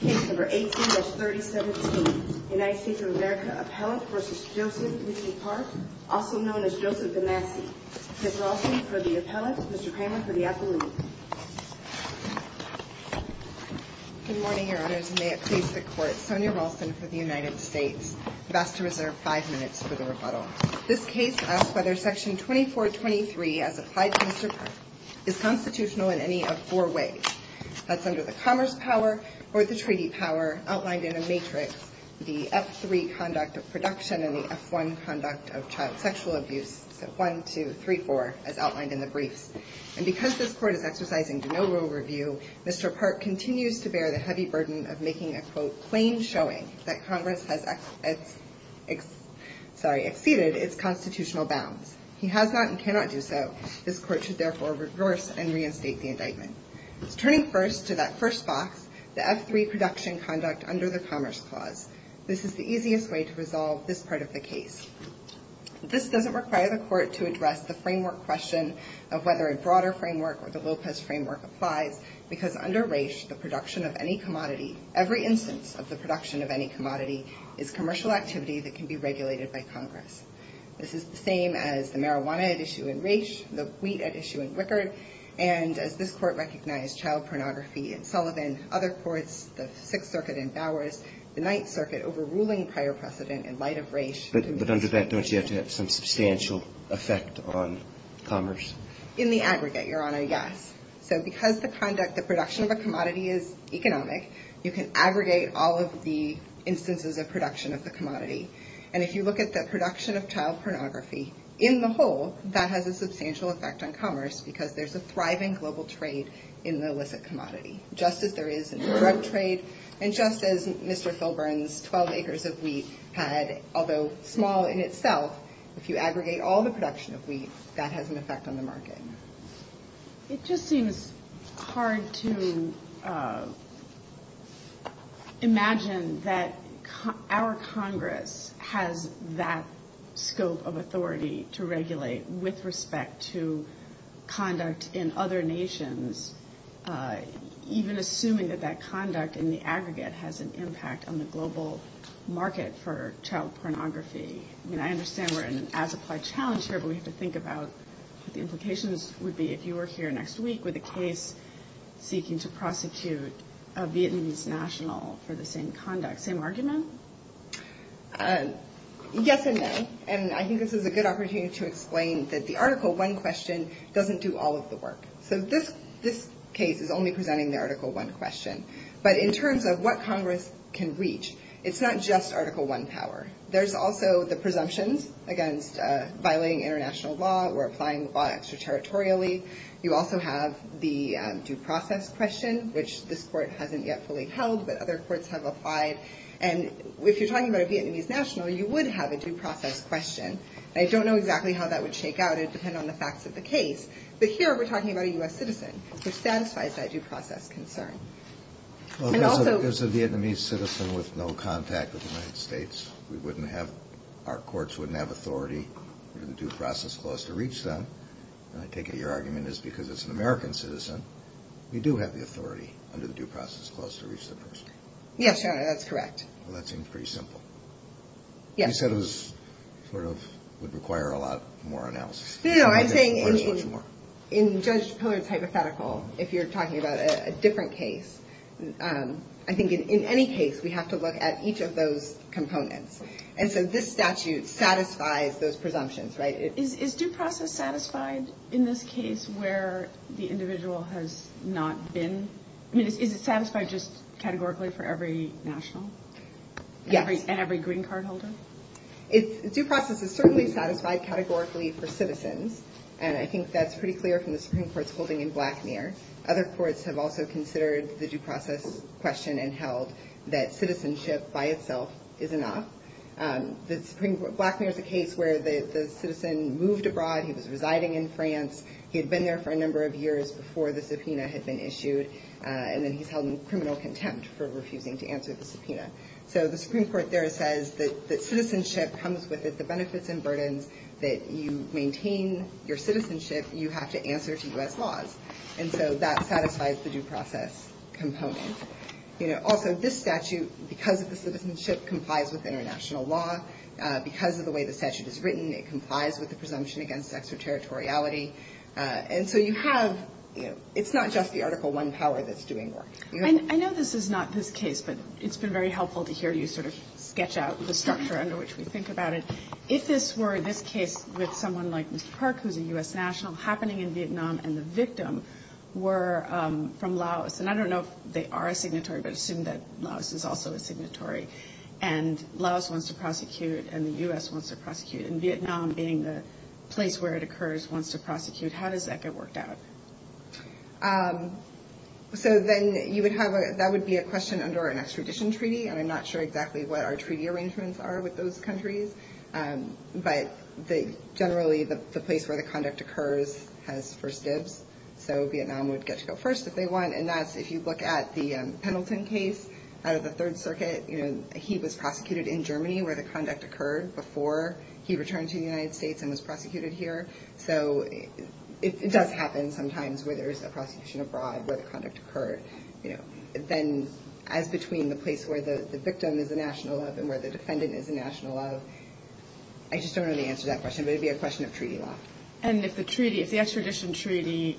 Good morning, Your Honors, and may it please the Court, Sonia Rolston for the United States. You're asked to reserve five minutes for the rebuttal. This case asks whether Section 2423, as applied to Mr. Park, is constitutional in any of four ways. That's under the Commerce Power or the Treaty Power, outlined in a matrix, the F-3 Conduct of Production and the F-1 Conduct of Child Sexual Abuse, F-1, 2, 3, 4, as outlined in the briefs. And because this Court is exercising no rule review, Mr. Park continues to bear the heavy burden of making a, quote, plain showing that Congress has exceeded its constitutional bounds. He has not and cannot do so. This Court should therefore reverse and reinstate the indictment. Turning first to that first box, the F-3 Production Conduct under the Commerce Clause. This is the easiest way to resolve this part of the case. This doesn't require the Court to address the framework question of whether a broader framework or the Lopez framework applies, because under Raich, the production of any commodity, every instance of the production of any commodity, is commercial activity that can be regulated by Congress. This is the same as the marijuana at issue in Raich, the wheat at issue in Wickard, and as this Court recognized, child pornography in Sullivan, other courts, the Sixth Circuit in Bowers, the Ninth Circuit overruling prior precedent in light of Raich. But under that, don't you have to have some substantial effect on commerce? In the aggregate, Your Honor, yes. So because the conduct, the production of a commodity is economic, you can aggregate all of the instances of production of the commodity. And if you look at the production of child pornography, in the whole, that has a substantial effect on commerce, because there's a thriving global trade in the illicit commodity. Just as there is in drug trade, and just as Mr. Filburn's 12 acres of wheat had, although small in itself, if you aggregate all the production of wheat, that has an effect on the market. It just seems hard to imagine that our Congress has that scope of authority to regulate with respect to conduct in other nations, even assuming that that conduct in the aggregate has an impact on the global market for child pornography. I mean, I understand we're in an as-applied challenge here, but we have to think about what the implications would be if you were here next week with a case seeking to prosecute a Vietnamese national for the same conduct. Same argument? Yes and no. And I think this is a good opportunity to explain that the Article I question doesn't do all of the work. So this case is only presenting the Article I question. But in terms of what Congress can reach, it's not just Article I power. There's also the presumptions against violating international law or applying the law extraterritorially. You also have the due process question, which this Court hasn't yet fully held, but other courts have applied. And if you're talking about a Vietnamese national, you would have a due process question. I don't know exactly how that would shake out. It would depend on the facts of the case. But here we're talking about a U.S. citizen, which satisfies that due process concern. There's a Vietnamese citizen with no contact with the United States. Our courts wouldn't have authority under the due process clause to reach them. And I take it your argument is because it's an American citizen, we do have the authority under the due process clause to reach the person. Yes, Your Honor, that's correct. Well, that seems pretty simple. You said it would require a lot more analysis. No, I'm saying in Judge Pollard's hypothetical, if you're talking about a different case, I think in any case, we have to look at each of those components. And so this statute satisfies those presumptions, right? Is due process satisfied in this case where the individual has not been? I mean, is it satisfied just categorically for every national? Yes. And every green card holder? Due process is certainly satisfied categorically for citizens, and I think that's pretty clear from the Supreme Court's holding in Blackmere. Other courts have also considered the due process question and held that citizenship by itself is enough. Blackmere is a case where the citizen moved abroad. He was residing in France. He had been there for a number of years before the subpoena had been issued, and then he's held in criminal contempt for refusing to answer the subpoena. So the Supreme Court there says that citizenship comes with it, the benefits and burdens that you maintain your citizenship, you have to answer to U.S. laws. And so that satisfies the due process component. You know, also, this statute, because of the citizenship, complies with international law. Because of the way the statute is written, it complies with the presumption against extraterritoriality. And so you have, you know, it's not just the Article I power that's doing work. I know this is not this case, but it's been very helpful to hear you sort of sketch out the structure under which we think about it. If this were this case with someone like Mr. Park, who's a U.S. national, happening in Vietnam, and the victim were from Laos. And I don't know if they are a signatory, but assume that Laos is also a signatory. And Laos wants to prosecute, and the U.S. wants to prosecute. And Vietnam, being the place where it occurs, wants to prosecute. How does that get worked out? So then you would have a, that would be a question under an extradition treaty, and I'm not sure exactly what our treaty arrangements are with those countries. But generally the place where the conduct occurs has first dibs, so Vietnam would get to go first if they want. And that's, if you look at the Pendleton case out of the Third Circuit, you know, he was prosecuted in Germany where the conduct occurred before he returned to the United States and was prosecuted here. So it does happen sometimes where there's a prosecution abroad where the conduct occurred. You know, then as between the place where the victim is a national of and where the I just don't know the answer to that question, but it would be a question of treaty law. And if the treaty, if the extradition treaty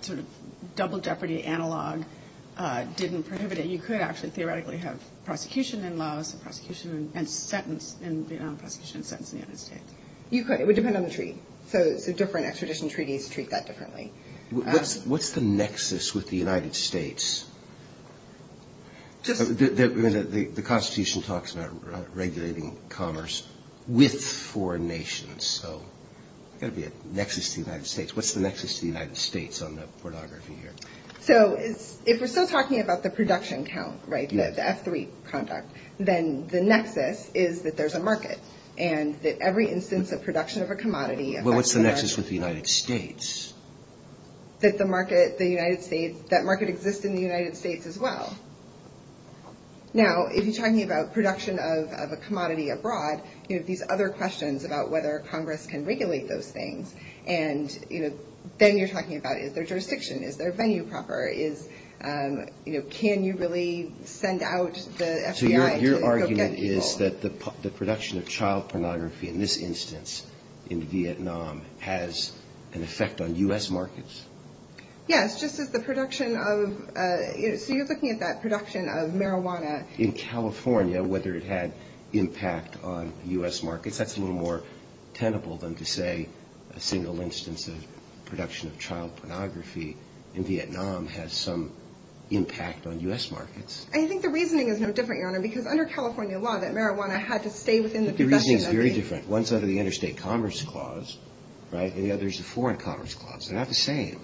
sort of double jeopardy analog didn't prohibit it, you could actually theoretically have prosecution in Laos and prosecution and sentence in Vietnam, prosecution and sentence in the United States. You could. It would depend on the treaty. So different extradition treaties treat that differently. What's the nexus with the United States? The Constitution talks about regulating commerce with foreign nations. So there's got to be a nexus to the United States. What's the nexus to the United States on the pornography here? So if we're still talking about the production count, right, the F3 conduct, then the nexus is that there's a market and that every instance of production of a commodity What's the nexus with the United States? That the market, the United States, that market exists in the United States as well. Now, if you're talking about production of a commodity abroad, you have these other questions about whether Congress can regulate those things. And, you know, then you're talking about is there jurisdiction? Is there venue proper? Is, you know, can you really send out the FBI to go get people? So your argument is that the production of child pornography in this instance in U.S. markets? Yes, just as the production of, so you're looking at that production of marijuana. In California, whether it had impact on U.S. markets, that's a little more tenable than to say a single instance of production of child pornography in Vietnam has some impact on U.S. markets. I think the reasoning is no different, Your Honor, because under California law, that marijuana had to stay within the production of the The reasoning is very different. One's under the Interstate Commerce Clause, right? And the other's the Foreign Commerce Clause. They're not the same.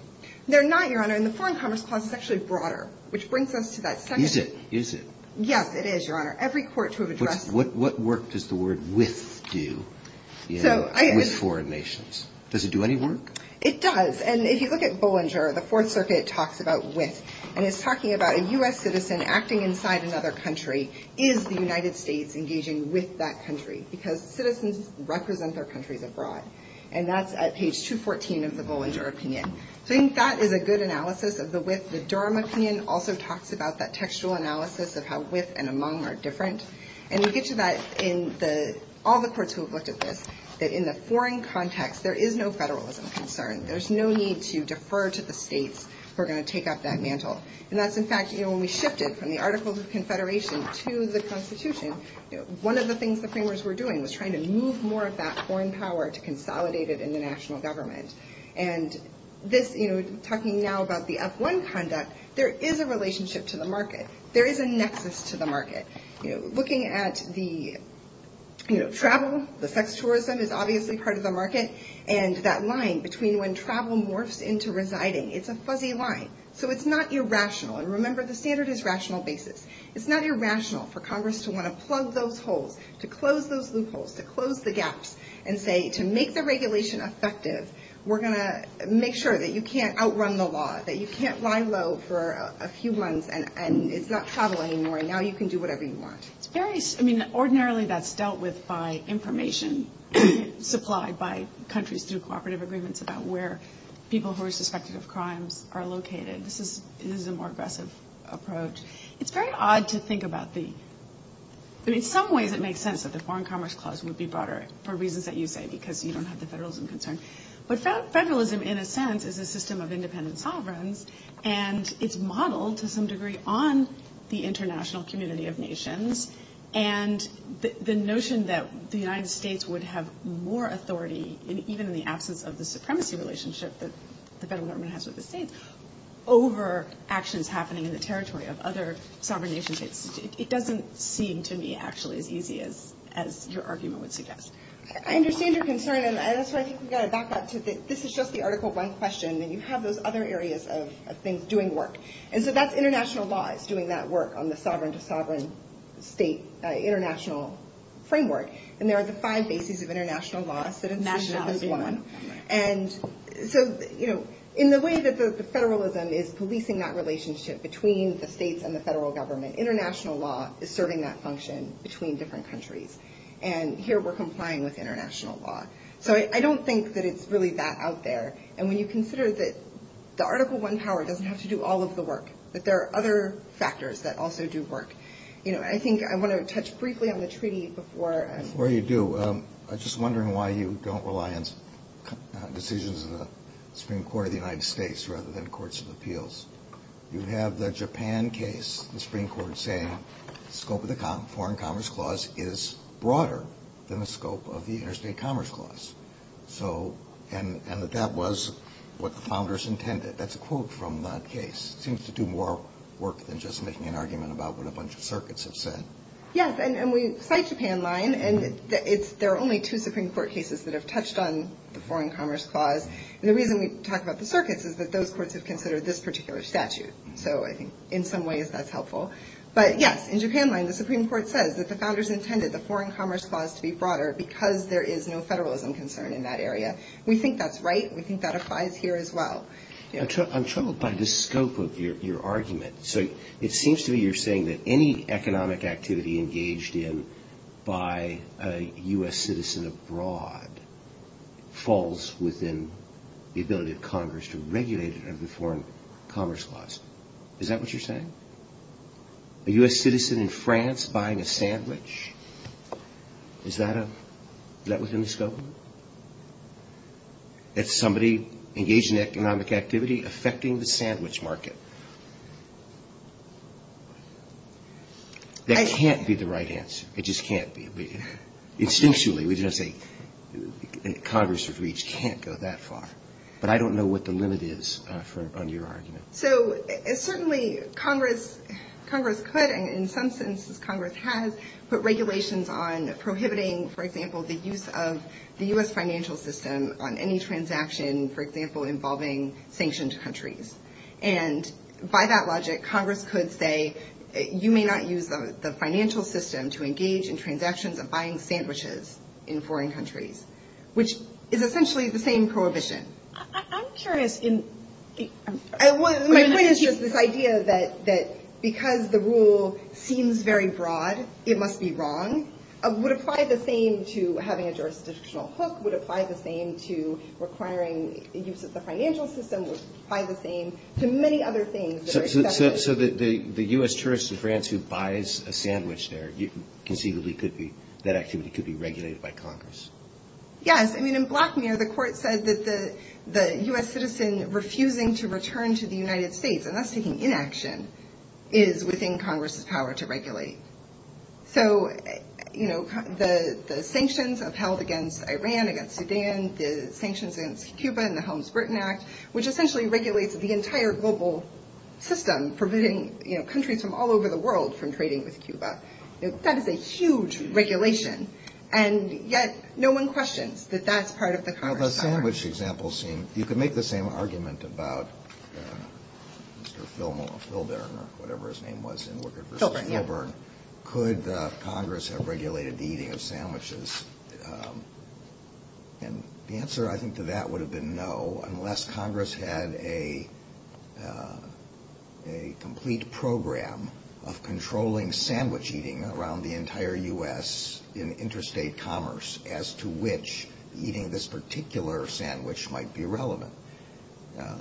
They're not, Your Honor. And the Foreign Commerce Clause is actually broader, which brings us to that second Is it? Is it? Yes, it is, Your Honor. Every court to have addressed What work does the word with do with foreign nations? Does it do any work? It does. And if you look at Bollinger, the Fourth Circuit talks about with. And it's talking about a U.S. citizen acting inside another country. Is the United States engaging with that country? Because citizens represent their countries abroad. And that's at page 214 of the Bollinger opinion. So I think that is a good analysis of the with. The Durham opinion also talks about that textual analysis of how with and among are different. And we get to that in all the courts who have looked at this, that in the foreign context, there is no federalism concern. There's no need to defer to the states who are going to take up that mantle. And that's, in fact, when we shifted from the Articles of Confederation to the Constitution, one of the things the framers were doing was trying to move more of that foreign power to consolidate it in the national government. And this, you know, talking now about the F1 conduct, there is a relationship to the market. There is a nexus to the market. Looking at the travel, the sex tourism is obviously part of the market. And that line between when travel morphs into residing, it's a fuzzy line. So it's not irrational. And remember, the standard is rational basis. It's not irrational for Congress to want to plug those holes, to close those loopholes, to close the gaps and say to make the regulation effective, we're going to make sure that you can't outrun the law, that you can't lie low for a few months and it's not travel anymore. Now you can do whatever you want. I mean, ordinarily that's dealt with by information supplied by countries through cooperative agreements about where people who are suspected of crimes are located. This is a more aggressive approach. It's very odd to think about the – I mean, in some ways it makes sense that the Foreign Commerce Clause would be broader for reasons that you say because you don't have the federalism concern. But federalism in a sense is a system of independent sovereigns and it's modeled to some degree on the international community of nations. And the notion that the United States would have more authority, even in the absence of the supremacy relationship that the federal government has with the states, over actions happening in the territory of other sovereign nations, it doesn't seem to me actually as easy as your argument would suggest. I understand your concern, and that's why I think we've got to back up to the – this is just the Article 1 question, and you have those other areas of things doing work. And so that's international laws doing that work on the sovereign-to-sovereign state, international framework. And there are the five bases of international law. And so in the way that the federalism is policing that relationship between the states and the federal government, international law is serving that function between different countries. And here we're complying with international law. So I don't think that it's really that out there. And when you consider that the Article 1 power doesn't have to do all of the work, that there are other factors that also do work. I think I want to touch briefly on the treaty before – I was just wondering why you don't rely on decisions of the Supreme Court of the United States rather than courts of appeals. You have the Japan case, the Supreme Court saying the scope of the Foreign Commerce Clause is broader than the scope of the Interstate Commerce Clause. So – and that that was what the founders intended. That's a quote from that case. It seems to do more work than just making an argument about what a bunch of circuits have said. Yes, and we cite Japan line. And it's – there are only two Supreme Court cases that have touched on the Foreign Commerce Clause. And the reason we talk about the circuits is that those courts have considered this particular statute. So I think in some ways that's helpful. But, yes, in Japan line, the Supreme Court says that the founders intended the Foreign Commerce Clause to be broader because there is no federalism concern in that area. We think that's right. We think that applies here as well. I'm troubled by the scope of your argument. So it seems to me you're saying that any economic activity engaged in by a U.S. citizen abroad falls within the ability of Congress to regulate it under the Foreign Commerce Clause. Is that what you're saying? A U.S. citizen in France buying a sandwich? That somebody engaged in economic activity affecting the sandwich market? That can't be the right answer. It just can't be. Instinctually, we just say Congress' reach can't go that far. But I don't know what the limit is on your argument. So certainly Congress could, and in some senses Congress has, put regulations on prohibiting, for example, the use of the U.S. financial system on any transaction, for example, involving sanctioned countries. And by that logic, Congress could say you may not use the financial system to engage in transactions of buying sandwiches in foreign countries, which is essentially the same prohibition. I'm curious. My point is just this idea that because the rule seems very broad, it must be wrong. It would apply the same to having a jurisdictional hook. It would apply the same to requiring the use of the financial system. It would apply the same to many other things. So the U.S. tourist in France who buys a sandwich there, conceivably that activity could be regulated by Congress? Yes. I mean, in Black Mirror, the court said that the U.S. citizen refusing to return to the United States, unless taking inaction, is within Congress' power to regulate. So the sanctions upheld against Iran, against Sudan, the sanctions against Cuba in the Helms-Britton Act, which essentially regulates the entire global system, preventing countries from all over the world from trading with Cuba. That is a huge regulation, and yet no one questions that that's part of the Congress power. You could make the same argument about Mr. Filburn or whatever his name was. Filburn, yeah. Could Congress have regulated the eating of sandwiches? And the answer, I think, to that would have been no, unless Congress had a complete program of controlling sandwich eating around the entire U.S. in interstate commerce, as to which eating this particular sandwich might be relevant.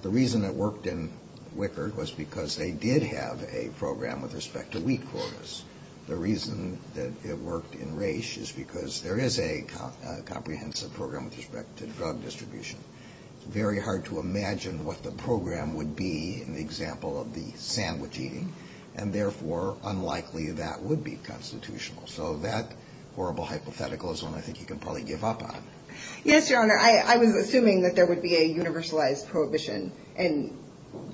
The reason it worked in Wickard was because they did have a program with respect to wheat quarters. The reason that it worked in Resch is because there is a comprehensive program with respect to drug distribution. It's very hard to imagine what the program would be in the example of the sandwich eating, and therefore unlikely that would be constitutional. So that horrible hypothetical is one I think you can probably give up on. Yes, Your Honor. I was assuming that there would be a universalized prohibition, and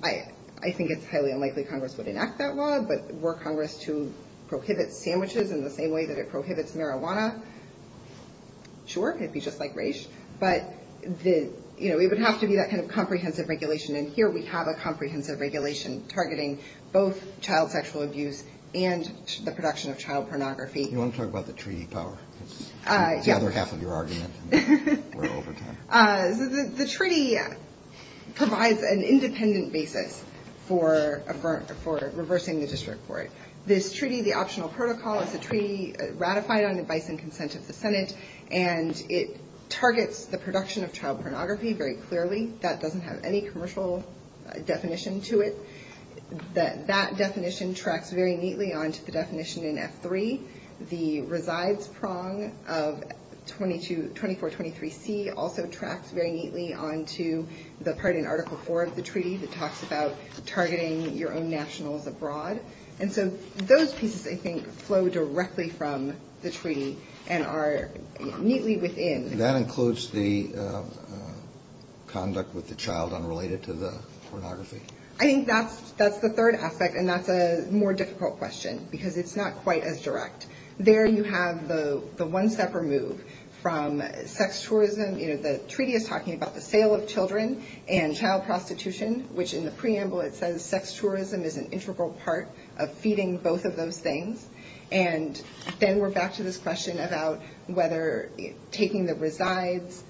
I think it's highly unlikely Congress would enact that law, but were Congress to prohibit sandwiches in the same way that it prohibits marijuana, sure, it would be just like Resch. But it would have to be that kind of comprehensive regulation, and here we have a comprehensive regulation targeting both child sexual abuse and the production of child pornography. You want to talk about the treaty power? It's the other half of your argument, and we're over time. The treaty provides an independent basis for reversing the district court. This treaty, the optional protocol, is a treaty ratified on advice and consent of the Senate, and it targets the production of child pornography very clearly. That doesn't have any commercial definition to it. That definition tracks very neatly onto the definition in F3. The resides prong of 2423C also tracks very neatly onto the part in Article 4 of the treaty that talks about targeting your own nationals abroad. And so those pieces, I think, flow directly from the treaty and are neatly within. That includes the conduct with the child unrelated to the pornography? I think that's the third aspect, and that's a more difficult question because it's not quite as direct. There you have the one-stepper move from sex tourism. The treaty is talking about the sale of children and child prostitution, which in the preamble it says sex tourism is an integral part of feeding both of those things. And then we're back to this question about whether taking the resides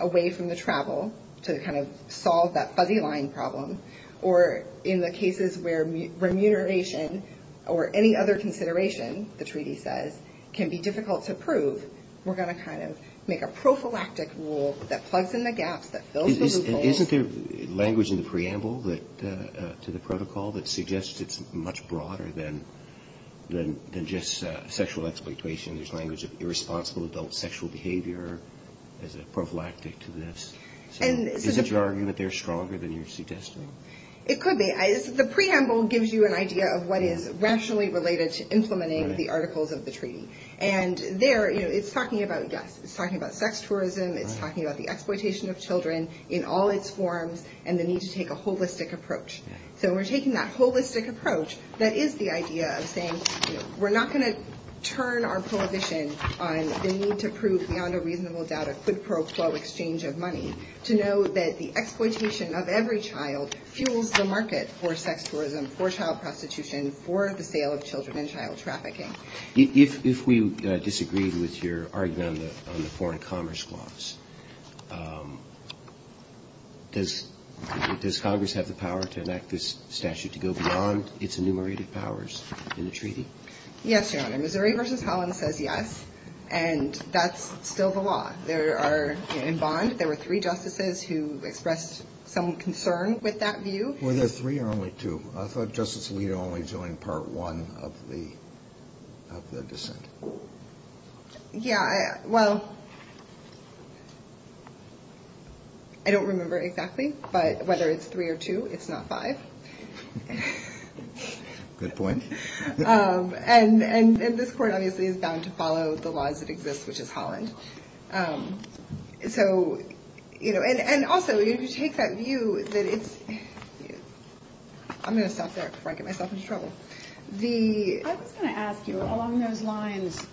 away from the travel to kind of solve that fuzzy line problem, or in the cases where remuneration or any other consideration, the treaty says, can be difficult to prove, we're going to kind of make a prophylactic rule that plugs in the gaps, that fills the loopholes. Isn't there language in the preamble to the protocol that suggests it's much broader than just sexual exploitation? There's language of irresponsible adult sexual behavior as a prophylactic to this. Is it your argument they're stronger than you're suggesting? It could be. The preamble gives you an idea of what is rationally related to implementing the articles of the treaty. And there it's talking about, yes, it's talking about sex tourism, it's talking about the exploitation of children in all its forms, and the need to take a holistic approach. So we're taking that holistic approach that is the idea of saying we're not going to turn our prohibition on the need to prove beyond a reasonable doubt a quid pro quo exchange of money, to know that the exploitation of every child fuels the market for sex tourism, for child prostitution, for the sale of children and child trafficking. If we disagreed with your argument on the foreign commerce clause, does Congress have the power to enact this statute to go beyond its enumerated powers in the treaty? Yes, Your Honor. Missouri v. Holland says yes, and that's still the law. There are in bond, there were three justices who expressed some concern with that view. Were there three or only two? I thought Justice Alito only joined part one of the dissent. Yeah, well, I don't remember exactly, but whether it's three or two, it's not five. Good point. And this court obviously is bound to follow the laws that exist, which is Holland. And also, if you take that view that it's – I'm going to stop there before I get myself into trouble. I was going to ask you, along those lines,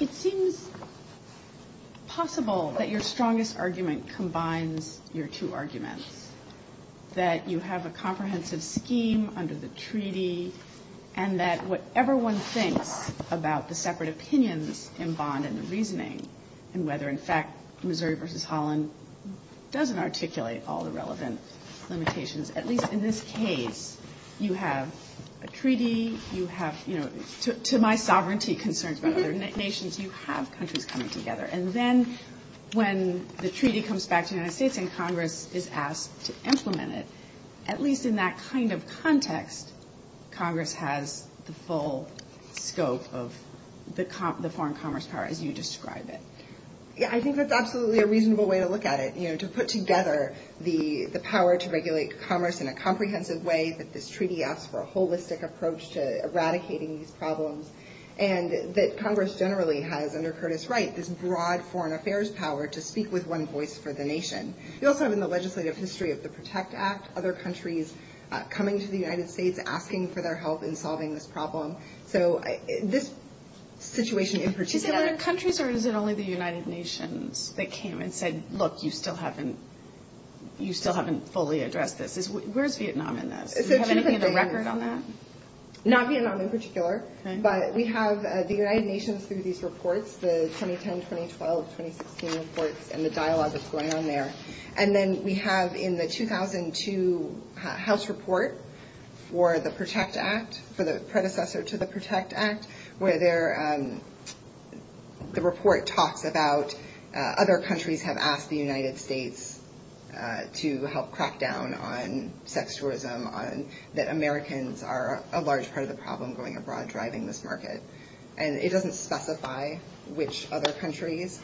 it seems possible that your strongest argument combines your two arguments, that you have a comprehensive scheme under the treaty, and that whatever one thinks about the separate opinions in bond and the reasoning, and whether, in fact, Missouri v. Holland doesn't articulate all the relevant limitations, at least in this case, you have a treaty, you have – to my sovereignty concerns about other nations, you have countries coming together. And then when the treaty comes back to the United States and Congress is asked to implement it, at least in that kind of context, Congress has the full scope of the foreign commerce power, as you describe it. Yeah, I think that's absolutely a reasonable way to look at it, you know, to put together the power to regulate commerce in a comprehensive way, that this treaty asks for a holistic approach to eradicating these problems, and that Congress generally has, under Curtis Wright, this broad foreign affairs power to speak with one voice for the nation. You also have in the legislative history of the PROTECT Act other countries coming to the United States, asking for their help in solving this problem. So this situation in particular – Is it other countries or is it only the United Nations that came and said, look, you still haven't fully addressed this? Where's Vietnam in this? Do you have anything in the record on that? Not Vietnam in particular, but we have the United Nations through these reports, the 2010, 2012, 2016 reports, and the dialogue that's going on there. And then we have in the 2002 House report for the PROTECT Act, for the predecessor to the PROTECT Act, where the report talks about other countries have asked the United States to help crack down on sex tourism, that Americans are a large part of the problem going abroad, driving this market. And it doesn't specify which other countries,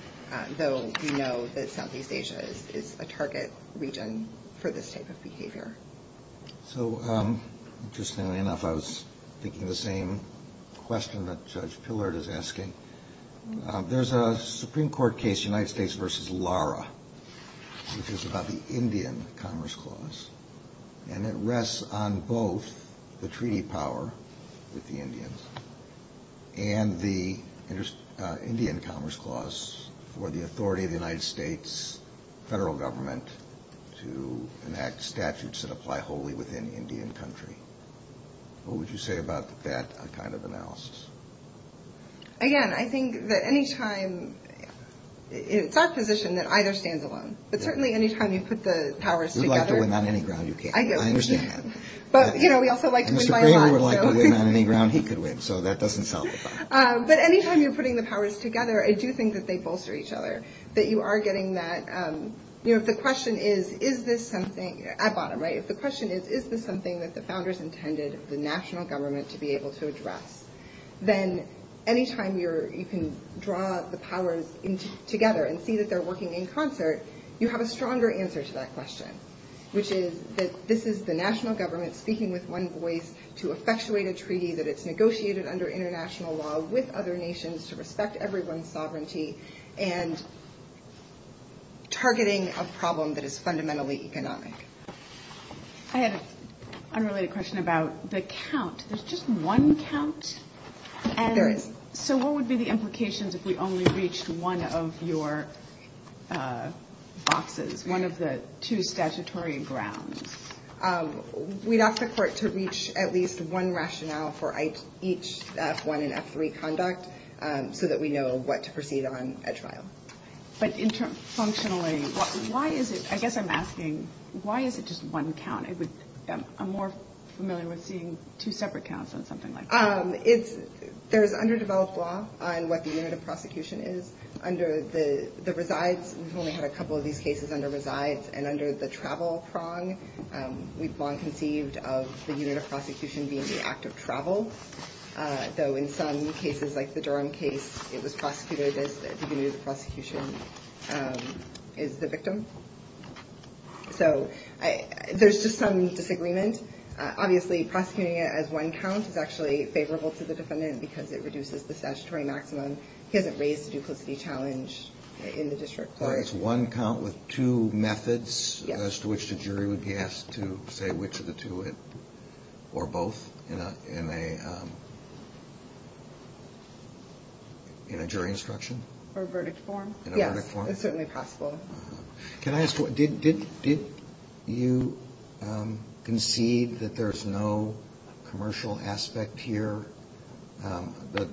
though we know that Southeast Asia is a target region for this type of behavior. So, interestingly enough, I was thinking the same question that Judge Pillard is asking. There's a Supreme Court case, United States v. Lara, which is about the Indian Commerce Clause, and it rests on both the treaty power with the Indians and the Indian Commerce Clause for the authority of the United States federal government to enact statutes that apply wholly within the Indian country. What would you say about that kind of analysis? Again, I think that any time, it's our position that either stands alone. But certainly any time you put the powers together. We'd like to win on any ground you can. I understand that. But, you know, we also like to win by a lot. Mr. Greenwood would like to win on any ground he could win, so that doesn't salvify. But any time you're putting the powers together, I do think that they bolster each other, that you are getting that, you know, if the question is, is this something, at bottom, right, if the question is, is this something that the founders intended the national government to be able to address, you have a stronger answer to that question, which is that this is the national government speaking with one voice to effectuate a treaty that it's negotiated under international law with other nations to respect everyone's sovereignty and targeting a problem that is fundamentally economic. I had an unrelated question about the count. There's just one count? There is. So what would be the implications if we only reached one of your boxes, one of the two statutory grounds? We'd ask the court to reach at least one rationale for each F1 and F3 conduct so that we know what to proceed on at trial. But functionally, why is it, I guess I'm asking, why is it just one count? I'm more familiar with seeing two separate counts on something like that. There's underdeveloped law on what the unit of prosecution is. Under the resides, we've only had a couple of these cases under resides, and under the travel prong, we've long conceived of the unit of prosecution being the act of travel, though in some cases, like the Durham case, it was prosecuted as the unit of prosecution is the victim. So there's just some disagreement. Obviously, prosecuting it as one count is actually favorable to the defendant because it reduces the statutory maximum. He hasn't raised the duplicity challenge in the district court. It's one count with two methods as to which the jury would be asked to say which of the two or both in a jury instruction? Or verdict form. In a verdict form? Yes, it's certainly possible. Can I ask, did you concede that there's no commercial aspect here? The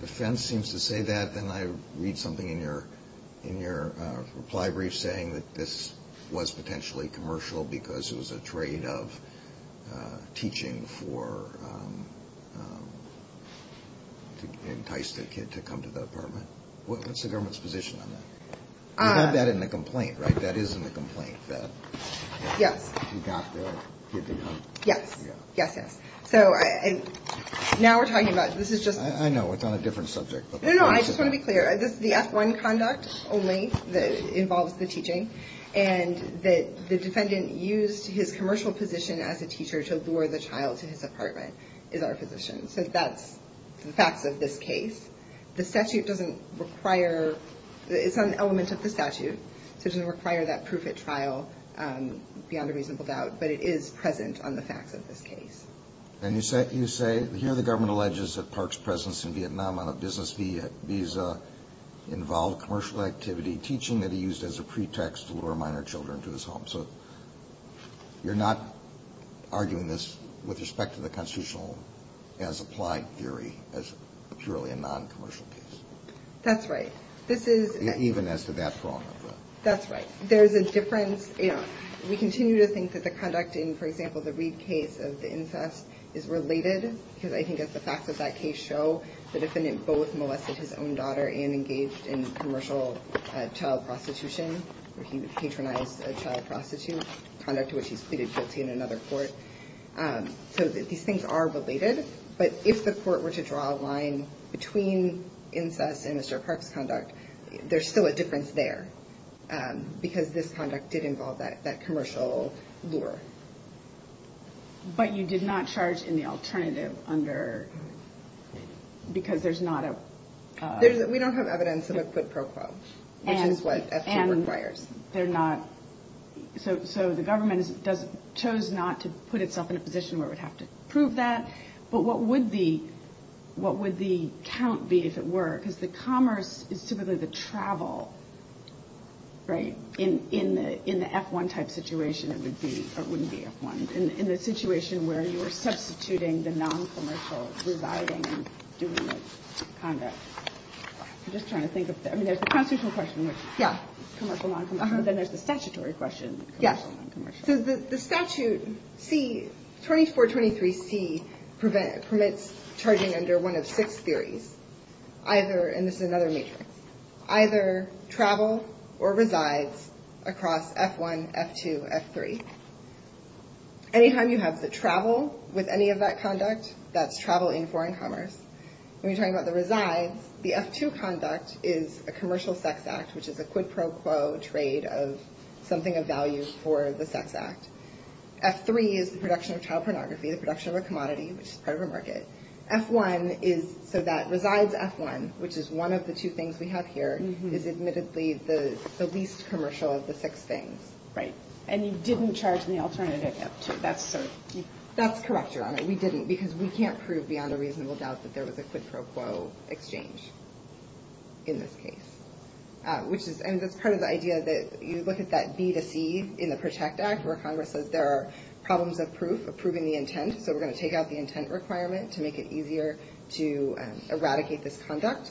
defense seems to say that. Then I read something in your reply brief saying that this was potentially commercial because it was a trade of teaching to entice the kid to come to the apartment. What's the government's position on that? You have that in the complaint, right? That is in the complaint. Yes. You got the kid to come. Yes. Yes, yes. So now we're talking about, this is just. I know, it's on a different subject. No, no, I just want to be clear. The F1 conduct only involves the teaching, and the defendant used his commercial position as a teacher to lure the child to his apartment is our position. So that's the facts of this case. The statute doesn't require, it's an element of the statute, so it doesn't require that proof at trial beyond a reasonable doubt, but it is present on the facts of this case. And you say, here the government alleges that Park's presence in Vietnam on a business visa involved commercial activity, teaching that he used as a pretext to lure minor children to his home. So you're not arguing this with respect to the constitutional as applied theory as purely a non-commercial case? That's right. Even as to that problem? That's right. There's a difference. We continue to think that the conduct in, for example, the Reid case of the incest is related, because I think as the facts of that case show, the defendant both molested his own daughter and engaged in commercial child prostitution, where he patronized a child prostitute, conduct to which he's pleaded guilty in another court. So these things are related. But if the court were to draw a line between incest and Mr. Park's conduct, there's still a difference there, because this conduct did involve that commercial lure. But you did not charge in the alternative under, because there's not a... We don't have evidence of a quid pro quo, which is what... And they're not... So the government chose not to put itself in a position where it would have to prove that. But what would the count be, if it were? Because the commerce is typically the travel, right? In the F-1 type situation, it would be... Or it wouldn't be F-1. In the situation where you were substituting the non-commercial, reviving and doing the conduct. I'm just trying to think of... I mean, there's the constitutional question, which... Commercial, non-commercial. But then there's the statutory question. Commercial, non-commercial. So the statute C... 2423C permits charging under one of six theories. Either... And this is another matrix. Either travel or resides across F-1, F-2, F-3. Any time you have the travel with any of that conduct, that's travel in foreign commerce. When you're talking about the resides, the F-2 conduct is a commercial sex act, which is a quid pro quo trade of something of value for the sex act. F-3 is the production of child pornography, the production of a commodity, which is part of a market. F-1 is... So that resides F-1, which is one of the two things we have here, is admittedly the least commercial of the six things. Right. And you didn't charge in the alternative F-2. That's correct, Your Honor. We didn't because we can't prove beyond a reasonable doubt that there was a quid pro quo exchange in this case. And that's part of the idea that you look at that B to C in the Protect Act, where Congress says there are problems of proof, of proving the intent. So we're going to take out the intent requirement to make it easier to eradicate this conduct.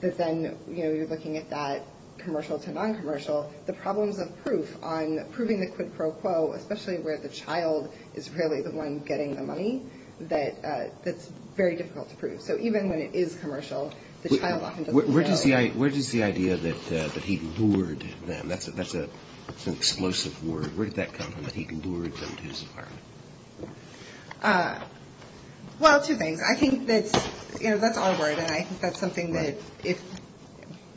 But then you're looking at that commercial to non-commercial, the problems of proof on proving the quid pro quo, especially where the child is really the one getting the money, that's very difficult to prove. So even when it is commercial, the child often doesn't know. Where does the idea that he lured them, that's an explosive word, where did that come from, that he lured them to his apartment? Well, two things. I think that's our word, and I think that's something that if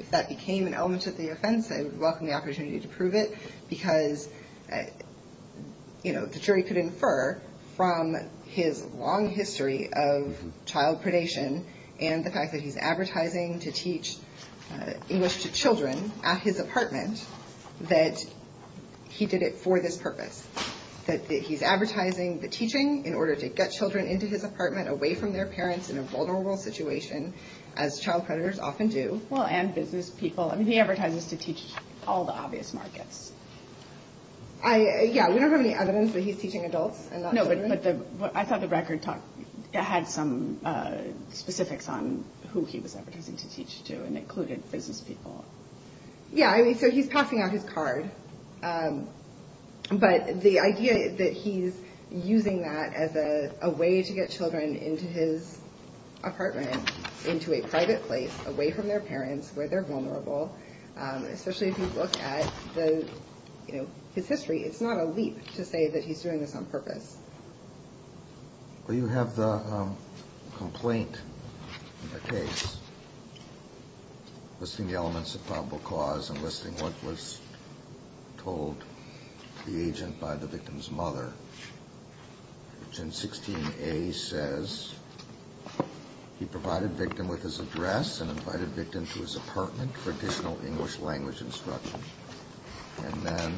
that became an element of the offense, I would welcome the opportunity to prove it because the jury could infer from his long history of child predation and the fact that he's advertising to teach English to children at his apartment that he did it for this purpose. That he's advertising the teaching in order to get children into his apartment, away from their parents in a vulnerable situation, as child predators often do. Well, and business people. I mean, he advertises to teach all the obvious markets. Yeah, we don't have any evidence that he's teaching adults and not children. No, but I thought the record had some specifics on who he was advertising to teach to and included business people. Yeah, I mean, so he's passing out his card. But the idea that he's using that as a way to get children into his apartment, into a private place, away from their parents where they're vulnerable, especially if you look at his history, it's not a leap to say that he's doing this on purpose. Well, you have the complaint in the case listing the elements of probable cause and listing what was told to the agent by the victim's mother. Section 16A says he provided victim with his address and invited victim to his apartment for additional English language instruction. And then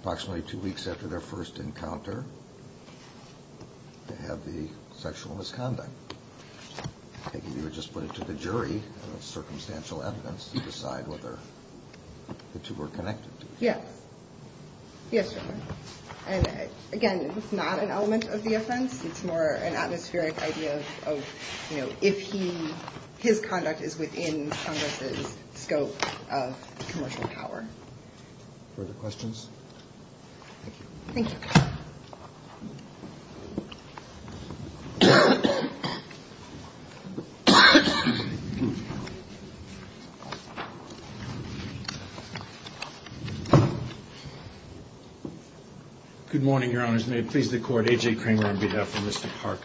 approximately two weeks after their first encounter, they have the sexual misconduct. If you would just put it to the jury, circumstantial evidence, to decide whether the two were connected. Yes. Yes, Your Honor. And, again, it's not an element of the offense. It's more an atmospheric idea of, you know, if his conduct is within Congress's scope of commercial power. Further questions? Thank you. Good morning, Your Honors. May it please the Court. A.J. Kramer on behalf of Mr. Park.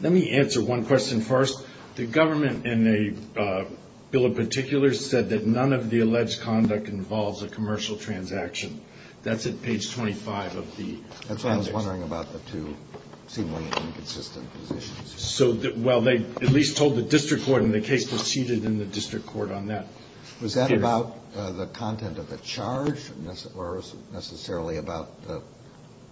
Let me answer one question first. The government in a bill in particular said that none of the alleged conduct involves a commercial transaction. That's at page 25 of the... That's what I was wondering about the two seemingly inconsistent positions. So, well, they at least told the district court, and the case proceeded in the district court on that. Was that about the content of the charge, or was it necessarily about the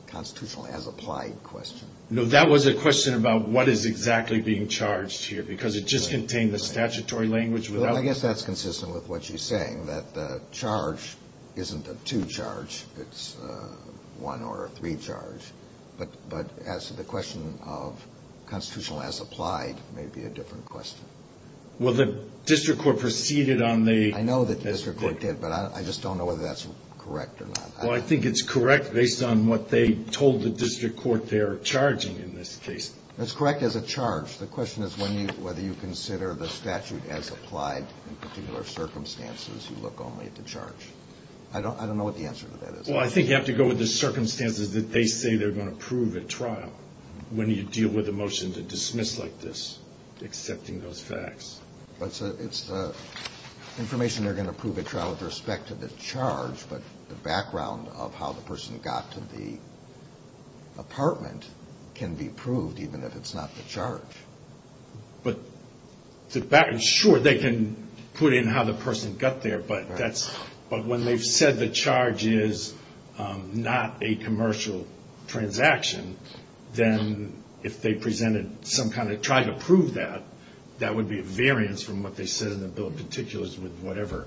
constitutional as applied question? No, that was a question about what is exactly being charged here, because it just contained the statutory language. I guess that's consistent with what she's saying, that the charge isn't a two charge. It's a one or a three charge. But as to the question of constitutional as applied may be a different question. Well, the district court proceeded on the... I know that the district court did, but I just don't know whether that's correct or not. Well, I think it's correct based on what they told the district court they're charging in this case. It's correct as a charge. The question is whether you consider the statute as applied in particular circumstances. You look only at the charge. I don't know what the answer to that is. Well, I think you have to go with the circumstances that they say they're going to prove at trial when you deal with a motion to dismiss like this, accepting those facts. But it's the information they're going to prove at trial with respect to the charge, but the background of how the person got to the apartment can be proved, even if it's not the charge. But the background... Sure, they can put in how the person got there, but that's... If they presented some kind of... tried to prove that, that would be a variance from what they said in the bill of particulars with whatever.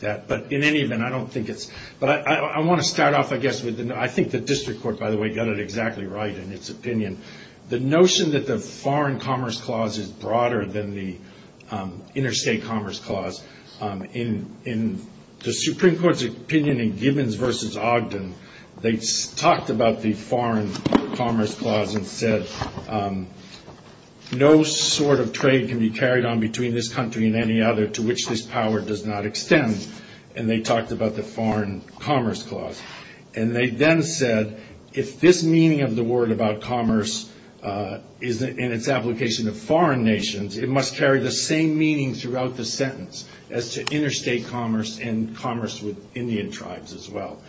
But in any event, I don't think it's... But I want to start off, I guess, with... I think the district court, by the way, got it exactly right in its opinion. The notion that the foreign commerce clause is broader than the interstate commerce clause. In the Supreme Court's opinion in Gibbons v. Ogden, they talked about the foreign commerce clause and said, no sort of trade can be carried on between this country and any other to which this power does not extend. And they talked about the foreign commerce clause. And they then said if this meaning of the word about commerce is in its application to foreign nations, it must carry the same meaning throughout the sentence as to interstate commerce and commerce with Indian tribes as well.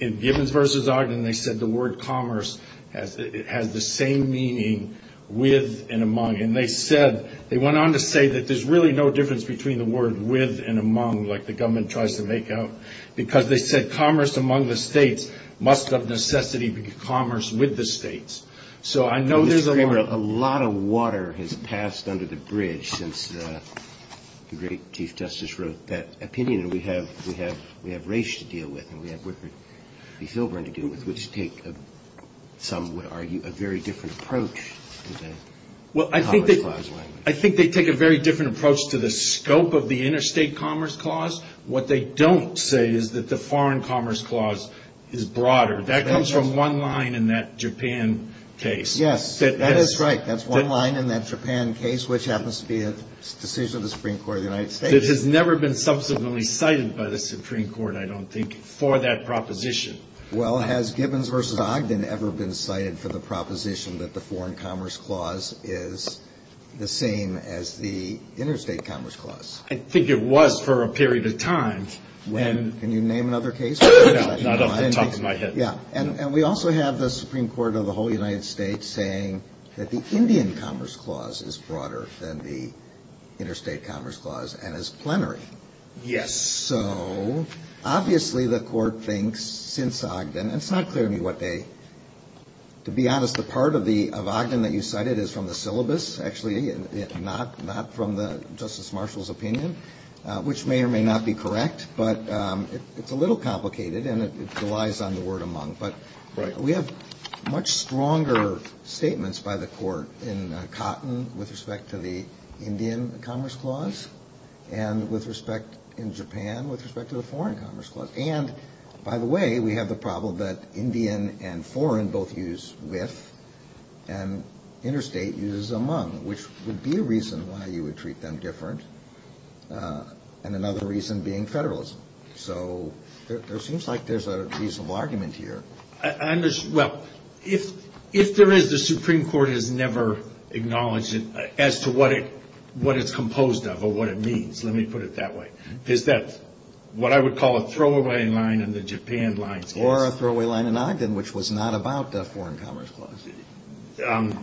In Gibbons v. Ogden, they said the word commerce has the same meaning with and among. And they said... They went on to say that there's really no difference between the word with and among, like the government tries to make out, because they said commerce among the states must of necessity be commerce with the states. So I know there's a... Mr. Kramer, a lot of water has passed under the bridge since the great Chief Justice wrote that opinion. We have Raich to deal with, and we have Whitford v. Filburn to deal with, which take, some would argue, a very different approach to the commerce clause language. I think they take a very different approach to the scope of the interstate commerce clause. What they don't say is that the foreign commerce clause is broader. That comes from one line in that Japan case. Yes, that is right. That's one line in that Japan case, which happens to be a decision of the Supreme Court of the United States. It has never been subsequently cited by the Supreme Court, I don't think, for that proposition. Well, has Gibbons v. Ogden ever been cited for the proposition that the foreign commerce clause is the same as the interstate commerce clause? I think it was for a period of time when... Can you name another case? No, not off the top of my head. And we also have the Supreme Court of the whole United States saying that the Indian commerce clause is broader than the interstate commerce clause, and is plenary. Yes. So obviously the Court thinks since Ogden... And it's not clear to me what they... To be honest, the part of Ogden that you cited is from the syllabus, actually, not from Justice Marshall's opinion, which may or may not be correct. But it's a little complicated, and it relies on the word among. But we have much stronger statements by the Court in Cotton with respect to the Indian commerce clause, and with respect in Japan with respect to the foreign commerce clause. And, by the way, we have the problem that Indian and foreign both use with, and interstate uses among, which would be a reason why you would treat them different, and another reason being federalism. So there seems like there's a reasonable argument here. Well, if there is, the Supreme Court has never acknowledged it as to what it's composed of or what it means, let me put it that way. Is that what I would call a throwaway line in the Japan lines case. Or a throwaway line in Ogden, which was not about the foreign commerce clause.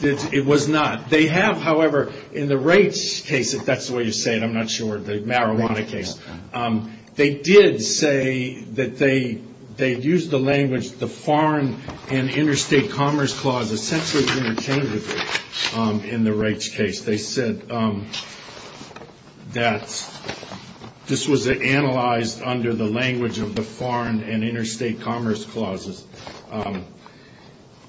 It was not. They have, however, in the rates case, if that's the way you say it, I'm not sure, the marijuana case, they did say that they used the language, the foreign and interstate commerce clause essentially interchangeably in the rates case. They said that this was analyzed under the language of the foreign and interstate commerce clauses.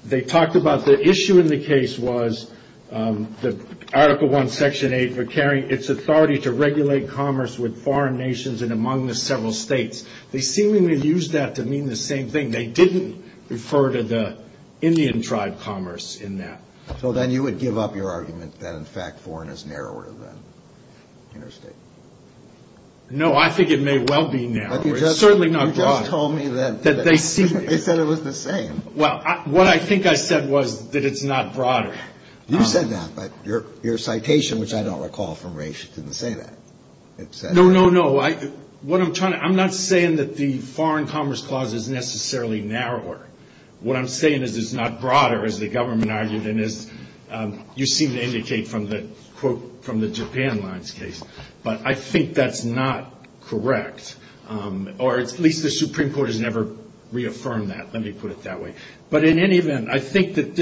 They talked about the issue in the case was that Article I, Section 8, requiring its authority to regulate commerce with foreign nations and among the several states. They seemingly used that to mean the same thing. They didn't refer to the Indian tribe commerce in that. So then you would give up your argument that, in fact, foreign is narrower than interstate. No, I think it may well be now. It's certainly not broader. You just told me that. That they see it. They said it was the same. Well, what I think I said was that it's not broader. You said that, but your citation, which I don't recall from race, didn't say that. No, no, no. I'm not saying that the foreign commerce clause is necessarily narrower. What I'm saying is it's not broader, as the government argued, and as you seem to indicate from the Japan lines case. But I think that's not correct, or at least the Supreme Court has never reaffirmed that. Let me put it that way. But in any event, I think that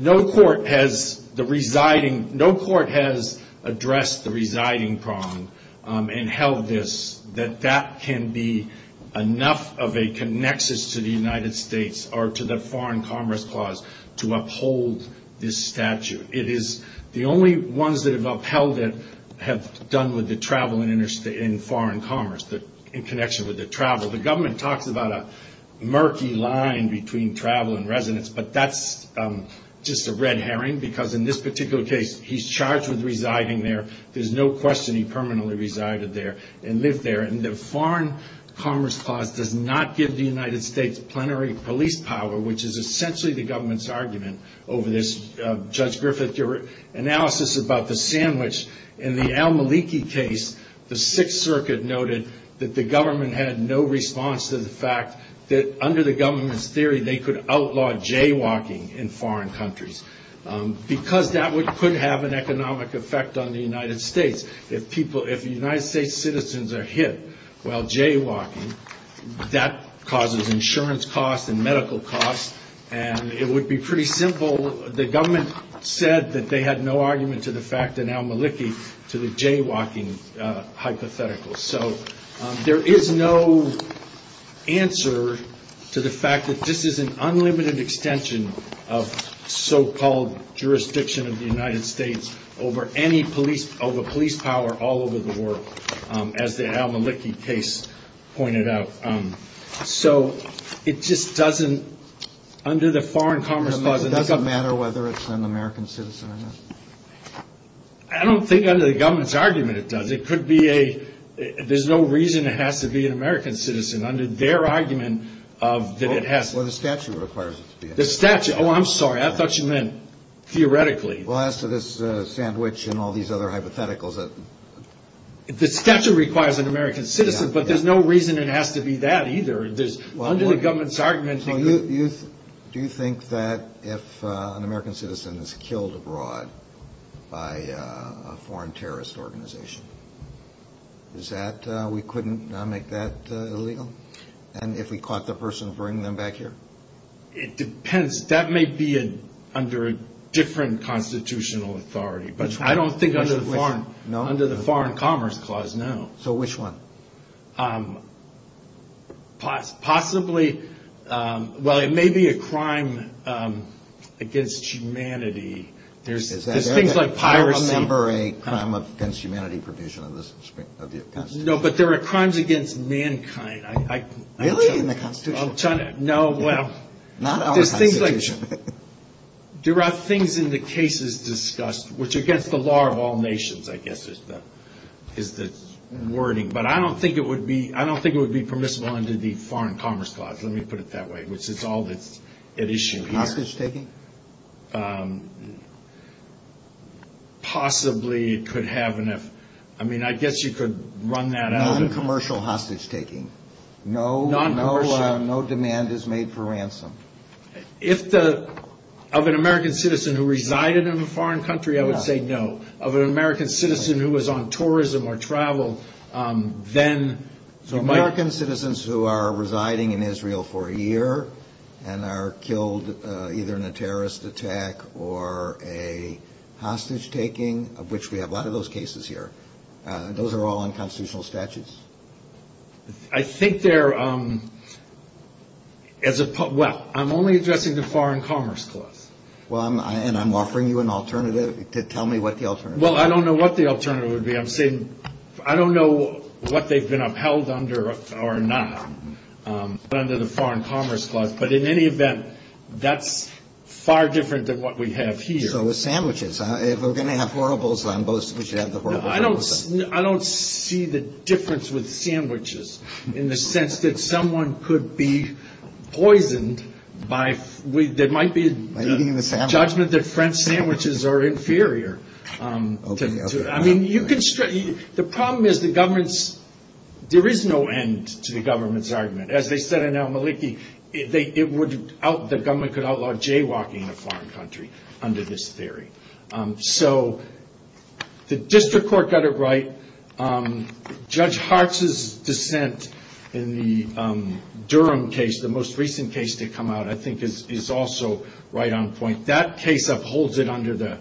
no court has addressed the residing prong and held this, that that can be enough of a connexus to the United States or to the foreign commerce clause to uphold this statute. It is the only ones that have upheld it have done with the travel in foreign commerce, in connection with the travel. The government talks about a murky line between travel and residence, but that's just a red herring because in this particular case, he's charged with residing there. There's no question he permanently resided there and lived there. And the foreign commerce clause does not give the United States plenary police power, which is essentially the government's argument over this. Judge Griffith, your analysis about the sandwich in the Al-Maliki case, the Sixth Circuit noted that the government had no response to the fact that under the government's theory, they could outlaw jaywalking in foreign countries because that could have an economic effect on the United States. If people, if United States citizens are hit while jaywalking, that causes insurance costs and medical costs. And it would be pretty simple. The government said that they had no argument to the fact in Al-Maliki to the jaywalking hypothetical. So there is no answer to the fact that this is an unlimited extension of so-called jurisdiction of the United States over any police, over police power all over the world, as the Al-Maliki case pointed out. So it just doesn't, under the foreign commerce clause. It doesn't matter whether it's an American citizen or not? I don't think under the government's argument it does. It could be a, there's no reason it has to be an American citizen. Under their argument of that it has. Well, the statute requires it to be. The statute, oh, I'm sorry. I thought you meant theoretically. Well, as to this sandwich and all these other hypotheticals. The statute requires an American citizen, but there's no reason it has to be that either. Under the government's argument. Do you think that if an American citizen is killed abroad by a foreign terrorist organization, is that, we couldn't make that illegal? And if we caught the person bringing them back here? It depends. That may be under a different constitutional authority. I don't think under the foreign commerce clause, no. So which one? Possibly, well, it may be a crime against humanity. There's things like piracy. I don't remember a crime against humanity provision of the constitution. No, but there are crimes against mankind. Really? In the constitution? No, well. Not our constitution. There are things in the cases discussed, which against the law of all nations, I guess, is the wording. But I don't think it would be permissible under the foreign commerce clause. Let me put it that way, which is all that's at issue here. Hostage taking? Possibly it could have an F. I mean, I guess you could run that out. Non-commercial hostage taking. Non-commercial. No demand is made for ransom. Of an American citizen who resided in a foreign country, I would say no. Of an American citizen who was on tourism or travel, then. American citizens who are residing in Israel for a year and are killed either in a terrorist attack or a hostage taking, of which we have a lot of those cases here, those are all unconstitutional statutes? I think they're, well, I'm only addressing the foreign commerce clause. Well, and I'm offering you an alternative. Tell me what the alternative is. Well, I don't know what the alternative would be. I'm saying I don't know what they've been upheld under or not under the foreign commerce clause. But in any event, that's far different than what we have here. So it's sandwiches. If we're going to have horribles, then we should have the horribles. I don't see the difference with sandwiches in the sense that someone could be poisoned by, there might be a judgment that French sandwiches are inferior. I mean, you can, the problem is the government's, there is no end to the government's argument. As they said in Al-Maliki, the government could outlaw jaywalking in a foreign country under this theory. So the district court got it right. Judge Hartz's dissent in the Durham case, the most recent case to come out, I think is also right on point. That case upholds it under the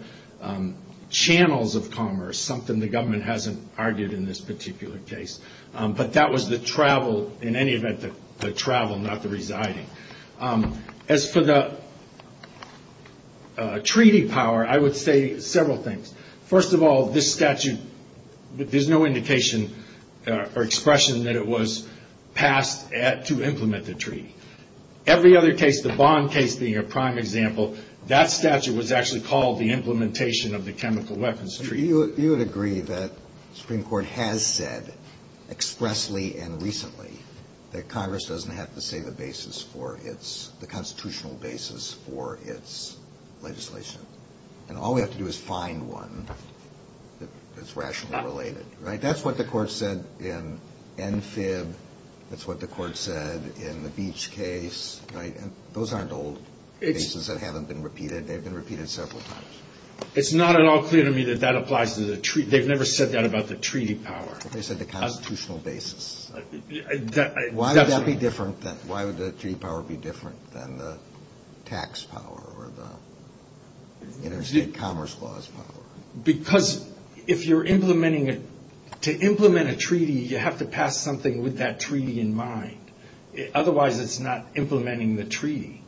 channels of commerce, something the government hasn't argued in this particular case. But that was the travel, in any event, the travel, not the residing. As for the treaty power, I would say several things. First of all, this statute, there's no indication or expression that it was passed to implement the treaty. Every other case, the Bond case being a prime example, that statute was actually called the implementation of the chemical weapons treaty. You would agree that the Supreme Court has said expressly and recently that Congress doesn't have to say the basis for its, the constitutional basis for its legislation. And all we have to do is find one that's rationally related, right? That's what the Court said in NFIB. That's what the Court said in the Beach case, right? Those aren't old cases that haven't been repeated. They've been repeated several times. It's not at all clear to me that that applies to the treaty. They've never said that about the treaty power. They said the constitutional basis. Why would that be different? Why would the treaty power be different than the tax power or the interstate commerce laws power? Because if you're implementing it, to implement a treaty, you have to pass something with that treaty in mind. Otherwise, it's not implementing the treaty.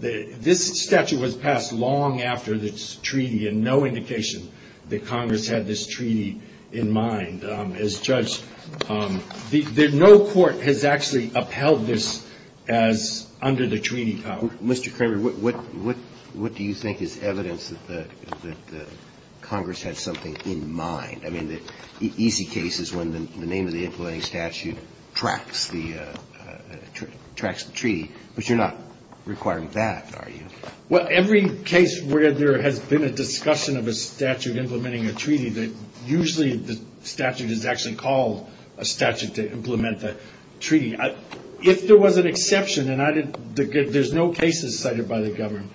This statute was passed long after this treaty and no indication that Congress had this treaty in mind. As Judge, no court has actually upheld this as under the treaty power. Mr. Kramer, what do you think is evidence that Congress had something in mind? I mean, the easy case is when the name of the implementing statute tracks the treaty, but you're not requiring that, are you? Well, every case where there has been a discussion of a statute implementing a treaty, usually the statute is actually called a statute to implement the treaty. If there was an exception, and there's no cases cited by the government,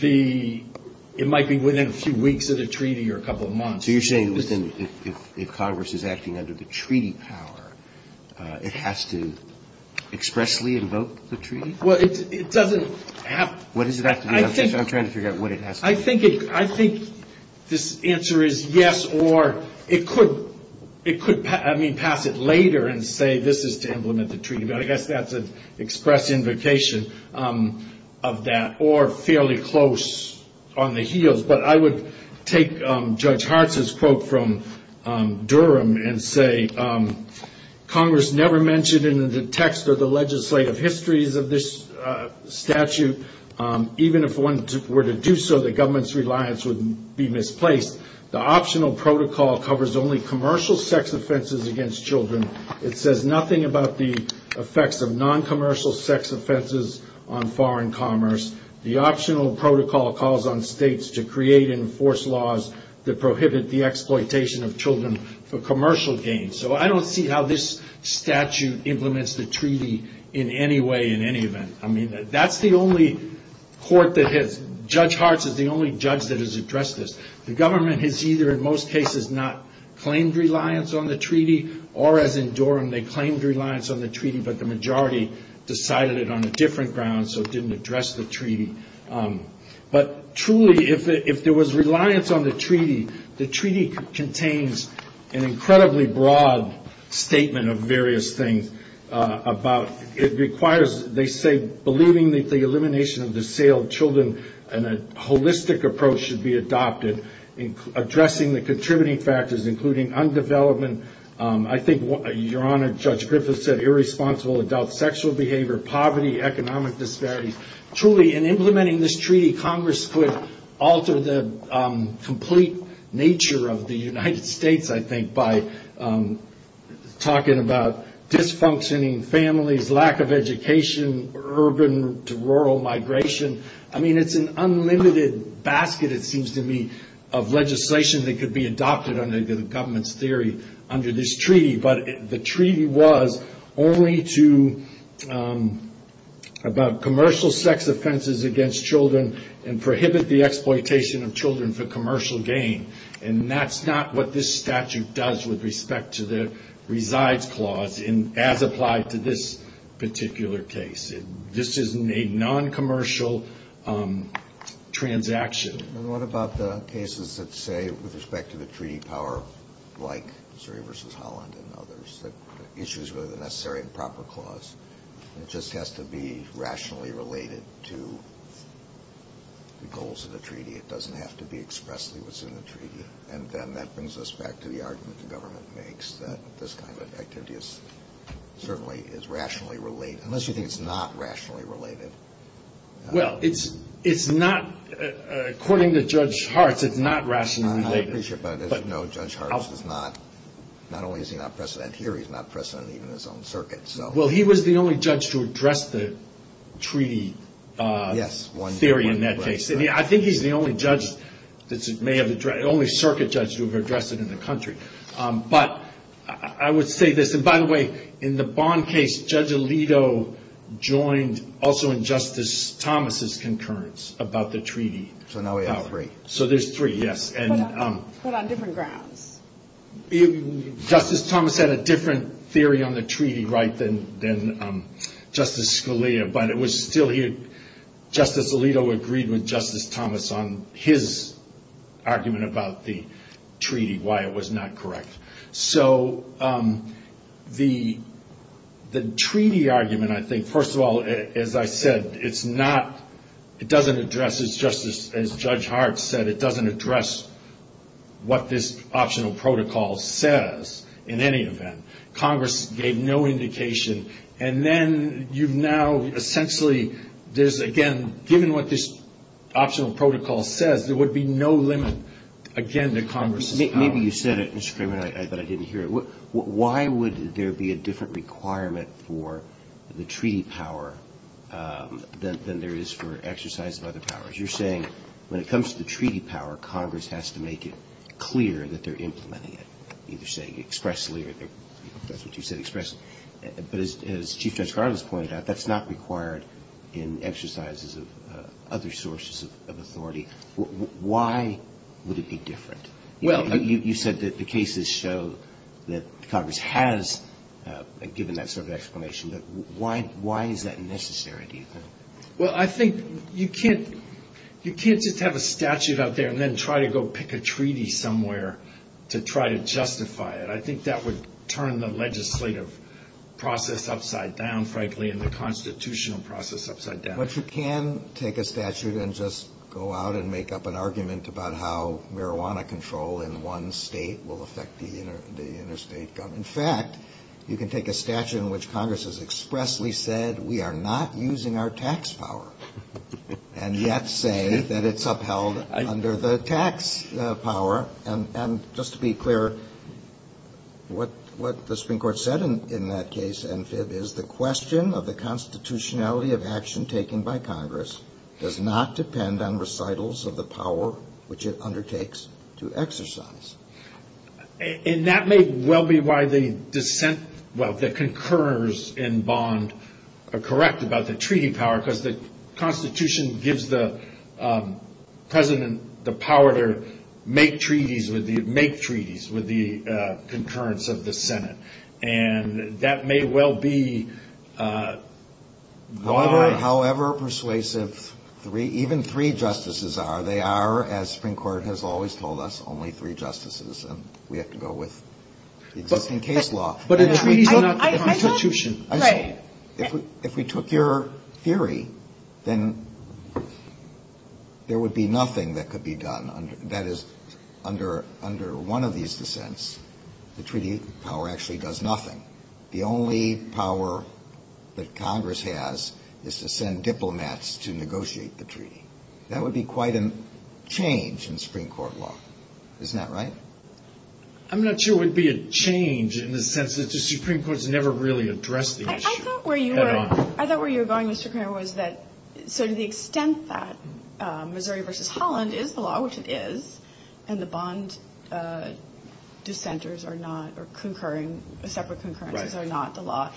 it might be within a few weeks of the treaty or a couple of months. So you're saying that if Congress is acting under the treaty power, it has to expressly invoke the treaty? Well, it doesn't have to. What does it have to do? I'm trying to figure out what it has to do. I think this answer is yes, or it could pass it later and say this is to implement the treaty. I guess that's an express invocation of that, or fairly close on the heels. But I would take Judge Hartz's quote from Durham and say, Congress never mentioned in the text or the legislative histories of this statute, even if one were to do so, the government's reliance would be misplaced. The optional protocol covers only commercial sex offenses against children. It says nothing about the effects of noncommercial sex offenses on foreign commerce. The optional protocol calls on states to create and enforce laws that prohibit the exploitation of children for commercial gain. So I don't see how this statute implements the treaty in any way in any event. I mean, that's the only court that has, Judge Hartz is the only judge that has addressed this. The government has either in most cases not claimed reliance on the treaty, or as in Durham, they claimed reliance on the treaty, but the majority decided it on a different ground, so it didn't address the treaty. But truly, if there was reliance on the treaty, the treaty contains an incredibly broad statement of various things about it requires, they say, believing that the elimination of the sale of children and a holistic approach should be adopted, addressing the contributing factors, including undevelopment. I think, Your Honor, Judge Griffiths said irresponsible adult sexual behavior, poverty, economic disparities. Truly, in implementing this treaty, Congress could alter the complete nature of the United States, I think, by talking about dysfunctioning families, lack of education, urban to rural migration. I mean, it's an unlimited basket, it seems to me, of legislation that could be adopted under the government's theory under this treaty, but the treaty was only about commercial sex offenses against children and prohibit the exploitation of children for commercial gain, and that's not what this statute does with respect to the resides clause as applied to this particular case. This is a non-commercial transaction. And what about the cases that say, with respect to the treaty power, like Missouri v. Holland and others, that the issue is really the necessary and proper clause, and it just has to be rationally related to the goals of the treaty. It doesn't have to be expressly what's in the treaty. And then that brings us back to the argument the government makes, that this kind of activity certainly is rationally related, unless you think it's not rationally related. Well, it's not, according to Judge Hartz, it's not rationally related. I appreciate that, but as you know, Judge Hartz is not, not only is he not precedent here, he's not precedent even in his own circuit. Well, he was the only judge to address the treaty theory in that case. I think he's the only circuit judge to have addressed it in the country. But I would say this, and by the way, in the Bond case, Judge Alito joined also in Justice Thomas' concurrence about the treaty. So now we have three. So there's three, yes. But on different grounds. Justice Thomas had a different theory on the treaty right than Justice Scalia, but it was still here. And he agreed with Justice Thomas on his argument about the treaty, why it was not correct. So the treaty argument, I think, first of all, as I said, it's not, it doesn't address, it's just as Judge Hartz said, it doesn't address what this optional protocol says in any event. Congress gave no indication. And then you've now essentially, there's again, given what this optional protocol says, there would be no limit, again, to Congress's power. Maybe you said it, Mr. Kramer, but I didn't hear it. Why would there be a different requirement for the treaty power than there is for exercise of other powers? You're saying when it comes to the treaty power, Congress has to make it clear that they're implementing it, either saying expressly, or that's what you said, expressly. But as Chief Judge Carlos pointed out, that's not required in exercises of other sources of authority. Why would it be different? You said that the cases show that Congress has given that sort of explanation. Why is that necessary, do you think? Well, I think you can't just have a statute out there and then try to go pick a treaty somewhere to try to justify it. I think that would turn the legislative process upside down, frankly, and the constitutional process upside down. But you can take a statute and just go out and make up an argument about how marijuana control in one state will affect the interstate government. In fact, you can take a statute in which Congress has expressly said we are not using our tax power, and yet say that it's upheld under the tax power. And just to be clear, what the Supreme Court said in that case, NFIB, is the question of the constitutionality of action taken by Congress does not depend on recitals of the power which it undertakes to exercise. And that may well be why the dissent, well, the concurrence in Bond are correct about the treaty power, because the constitution gives the president the power to make treaties with the concurrence of the Senate. And that may well be why... However persuasive even three justices are, they are, as the Supreme Court has always told us, only three justices, and we have to go with the existing case law. But a treaty is not the constitution. Right. If we took your theory, then there would be nothing that could be done. That is, under one of these dissents, the treaty power actually does nothing. The only power that Congress has is to send diplomats to negotiate the treaty. That would be quite a change in Supreme Court law. Isn't that right? I'm not sure it would be a change in the sense that the Supreme Court has never really addressed the issue. I thought where you were going, Mr. Cramer, was that sort of the extent that Missouri v. Holland is the law, which it is, and the bond dissenters are not, or separate concurrences are not the law,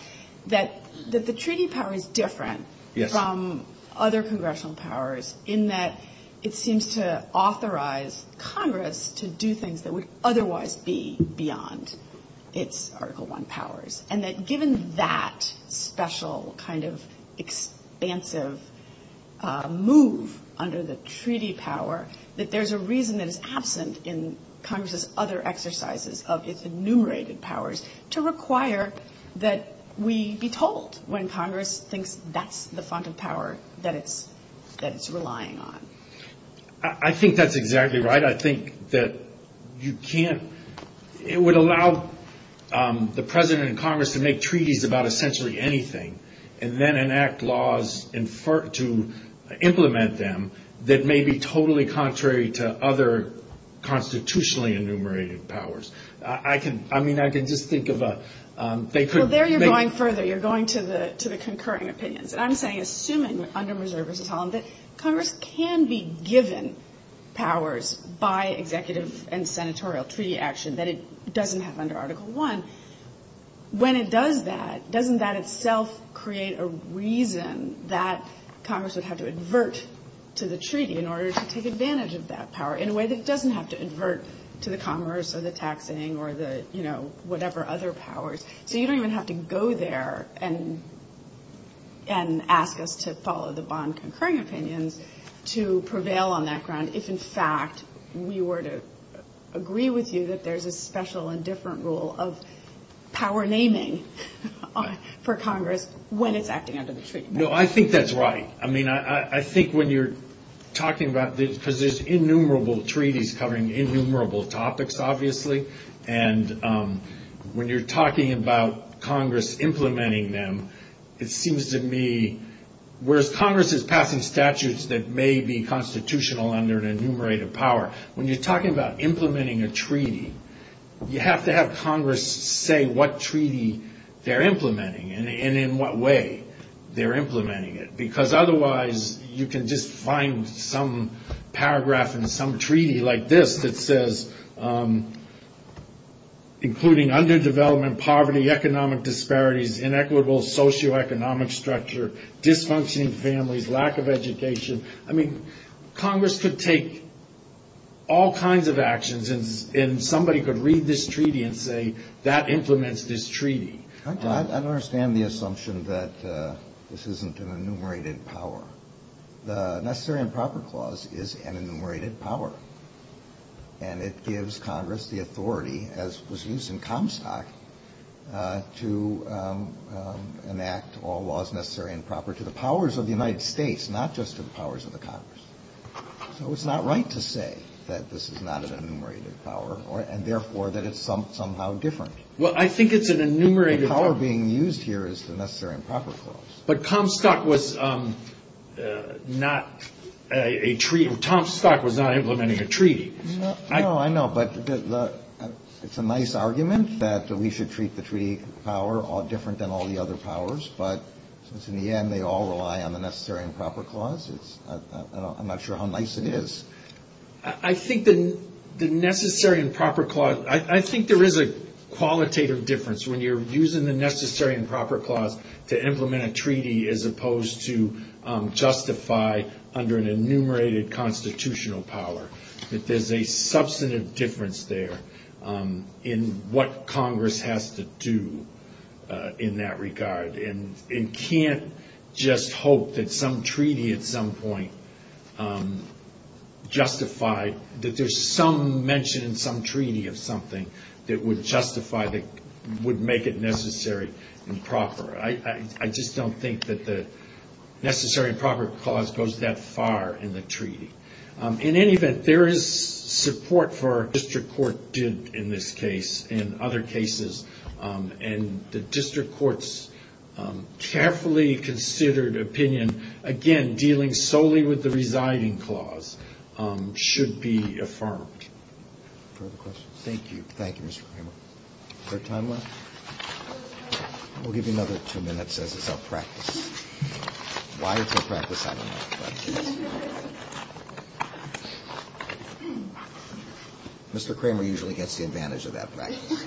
that the treaty power is different from other congressional powers in that it seems to authorize Congress to do things that would otherwise be beyond its Article I powers. And that given that special kind of expansive move under the treaty power, that there's a reason that is absent in Congress's other exercises of its enumerated powers, to require that we be told when Congress thinks that's the font of power that it's relying on. I think that's exactly right. I think that you can't – it would allow the President and Congress to make treaties about essentially anything and then enact laws to implement them that may be totally contrary to other constitutionally enumerated powers. I mean, I can just think of a – Well, there you're going further. You're going to the concurring opinions. And I'm saying, assuming under Missouri v. Holland, that Congress can be given powers by executive and senatorial treaty action that it doesn't have under Article I. When it does that, doesn't that itself create a reason that Congress would have to advert to the treaty in order to take advantage of that power in a way that doesn't have to advert to the commerce or the taxing or the, you know, whatever other powers? So you don't even have to go there and ask us to follow the bond concurring opinions to prevail on that ground if, in fact, we were to agree with you that there's a special and different rule of power naming for Congress when it's acting under the treaty. No, I think that's right. I mean, I think when you're talking about – because there's innumerable treaties covering innumerable topics, obviously. And when you're talking about Congress implementing them, it seems to me – whereas Congress is passing statutes that may be constitutional under an enumerated power, when you're talking about implementing a treaty, you have to have Congress say what treaty they're implementing and in what way they're implementing it. Because otherwise, you can just find some paragraph in some treaty like this that says, including underdevelopment, poverty, economic disparities, inequitable socioeconomic structure, dysfunctioning families, lack of education. I mean, Congress could take all kinds of actions and somebody could read this treaty and say, that implements this treaty. I don't understand the assumption that this isn't an enumerated power. The Necessary and Proper Clause is an enumerated power. And it gives Congress the authority, as was used in Comstock, to enact all laws necessary and proper to the powers of the United States, not just to the powers of the Congress. So it's not right to say that this is not an enumerated power and, therefore, that it's somehow different. Well, I think it's an enumerated power. The power being used here is the Necessary and Proper Clause. But Comstock was not a treaty. Comstock was not implementing a treaty. No, I know. But it's a nice argument that we should treat the treaty power different than all the other powers. But since, in the end, they all rely on the Necessary and Proper Clause, I'm not sure how nice it is. I think there is a qualitative difference when you're using the Necessary and Proper Clause to implement a treaty as opposed to justify under an enumerated constitutional power. There's a substantive difference there in what Congress has to do in that regard. And you can't just hope that some treaty at some point justified, that there's some mention in some treaty of something that would justify, that would make it necessary and proper. I just don't think that the Necessary and Proper Clause goes that far in the treaty. In any event, there is support for what the district court did in this case and other cases. And the district court's carefully considered opinion, again, dealing solely with the residing clause, should be affirmed. Thank you. Thank you, Mr. Kramer. Is there time left? We'll give you another two minutes as it's a practice. Why it's a practice, I don't know. Mr. Kramer usually gets the advantage of that practice.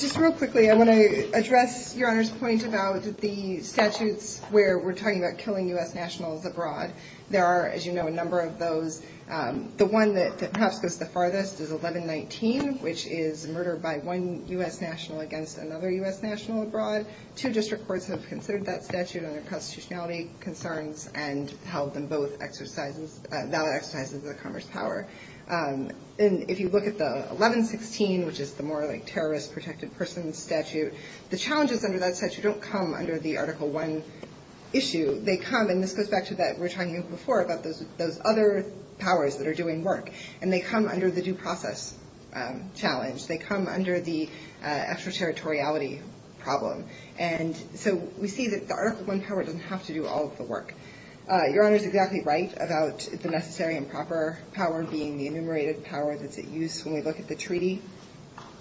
Just real quickly, I want to address Your Honor's point about the statutes where we're talking about killing U.S. nationals abroad. There are, as you know, a number of those. The one that perhaps goes the farthest is 1119, which is murder by one U.S. national against another U.S. national abroad. Two district courts have considered that statute on their constitutionality concerns and held them both valid exercises of the Congress' power. And if you look at the 1116, which is the more like terrorist protected persons statute, the challenges under that statute don't come under the Article I issue. They come, and this goes back to that we were talking about before, about those other powers that are doing work. And they come under the due process challenge. They come under the extraterritoriality problem. And so we see that the Article I power doesn't have to do all of the work. Your Honor is exactly right about the necessary and proper power being the enumerated power that's at use when we look at the treaty.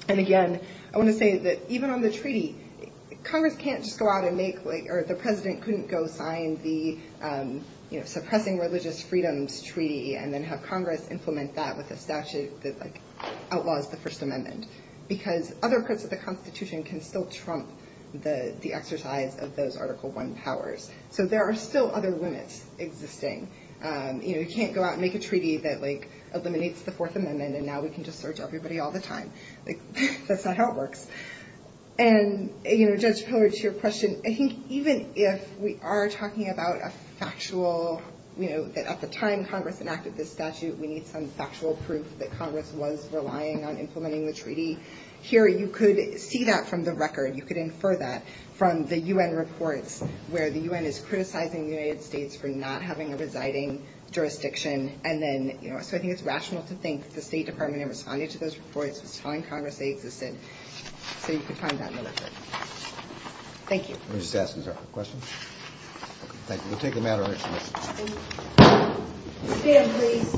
And again, I want to say that even on the treaty, Congress can't just go out and make, or the president couldn't go sign the suppressing religious freedoms treaty and then have Congress implement that with a statute that outlaws the First Amendment. Because other parts of the Constitution can still trump the exercise of those Article I powers. So there are still other limits existing. You can't go out and make a treaty that eliminates the Fourth Amendment and now we can just search everybody all the time. That's not how it works. And Judge Pillard, to your question, I think even if we are talking about a factual, that at the time Congress enacted this statute, we need some factual proof that Congress was relying on implementing the treaty. Here you could see that from the record. You could infer that from the U.N. reports where the U.N. is criticizing the United States for not having a residing jurisdiction. So I think it's rational to think that the State Department, in responding to those reports, was telling Congress they existed. So you could find that in the record. Thank you. We'll just ask a couple questions. Thank you. We'll take a matter or two. Thank you. Stand, please.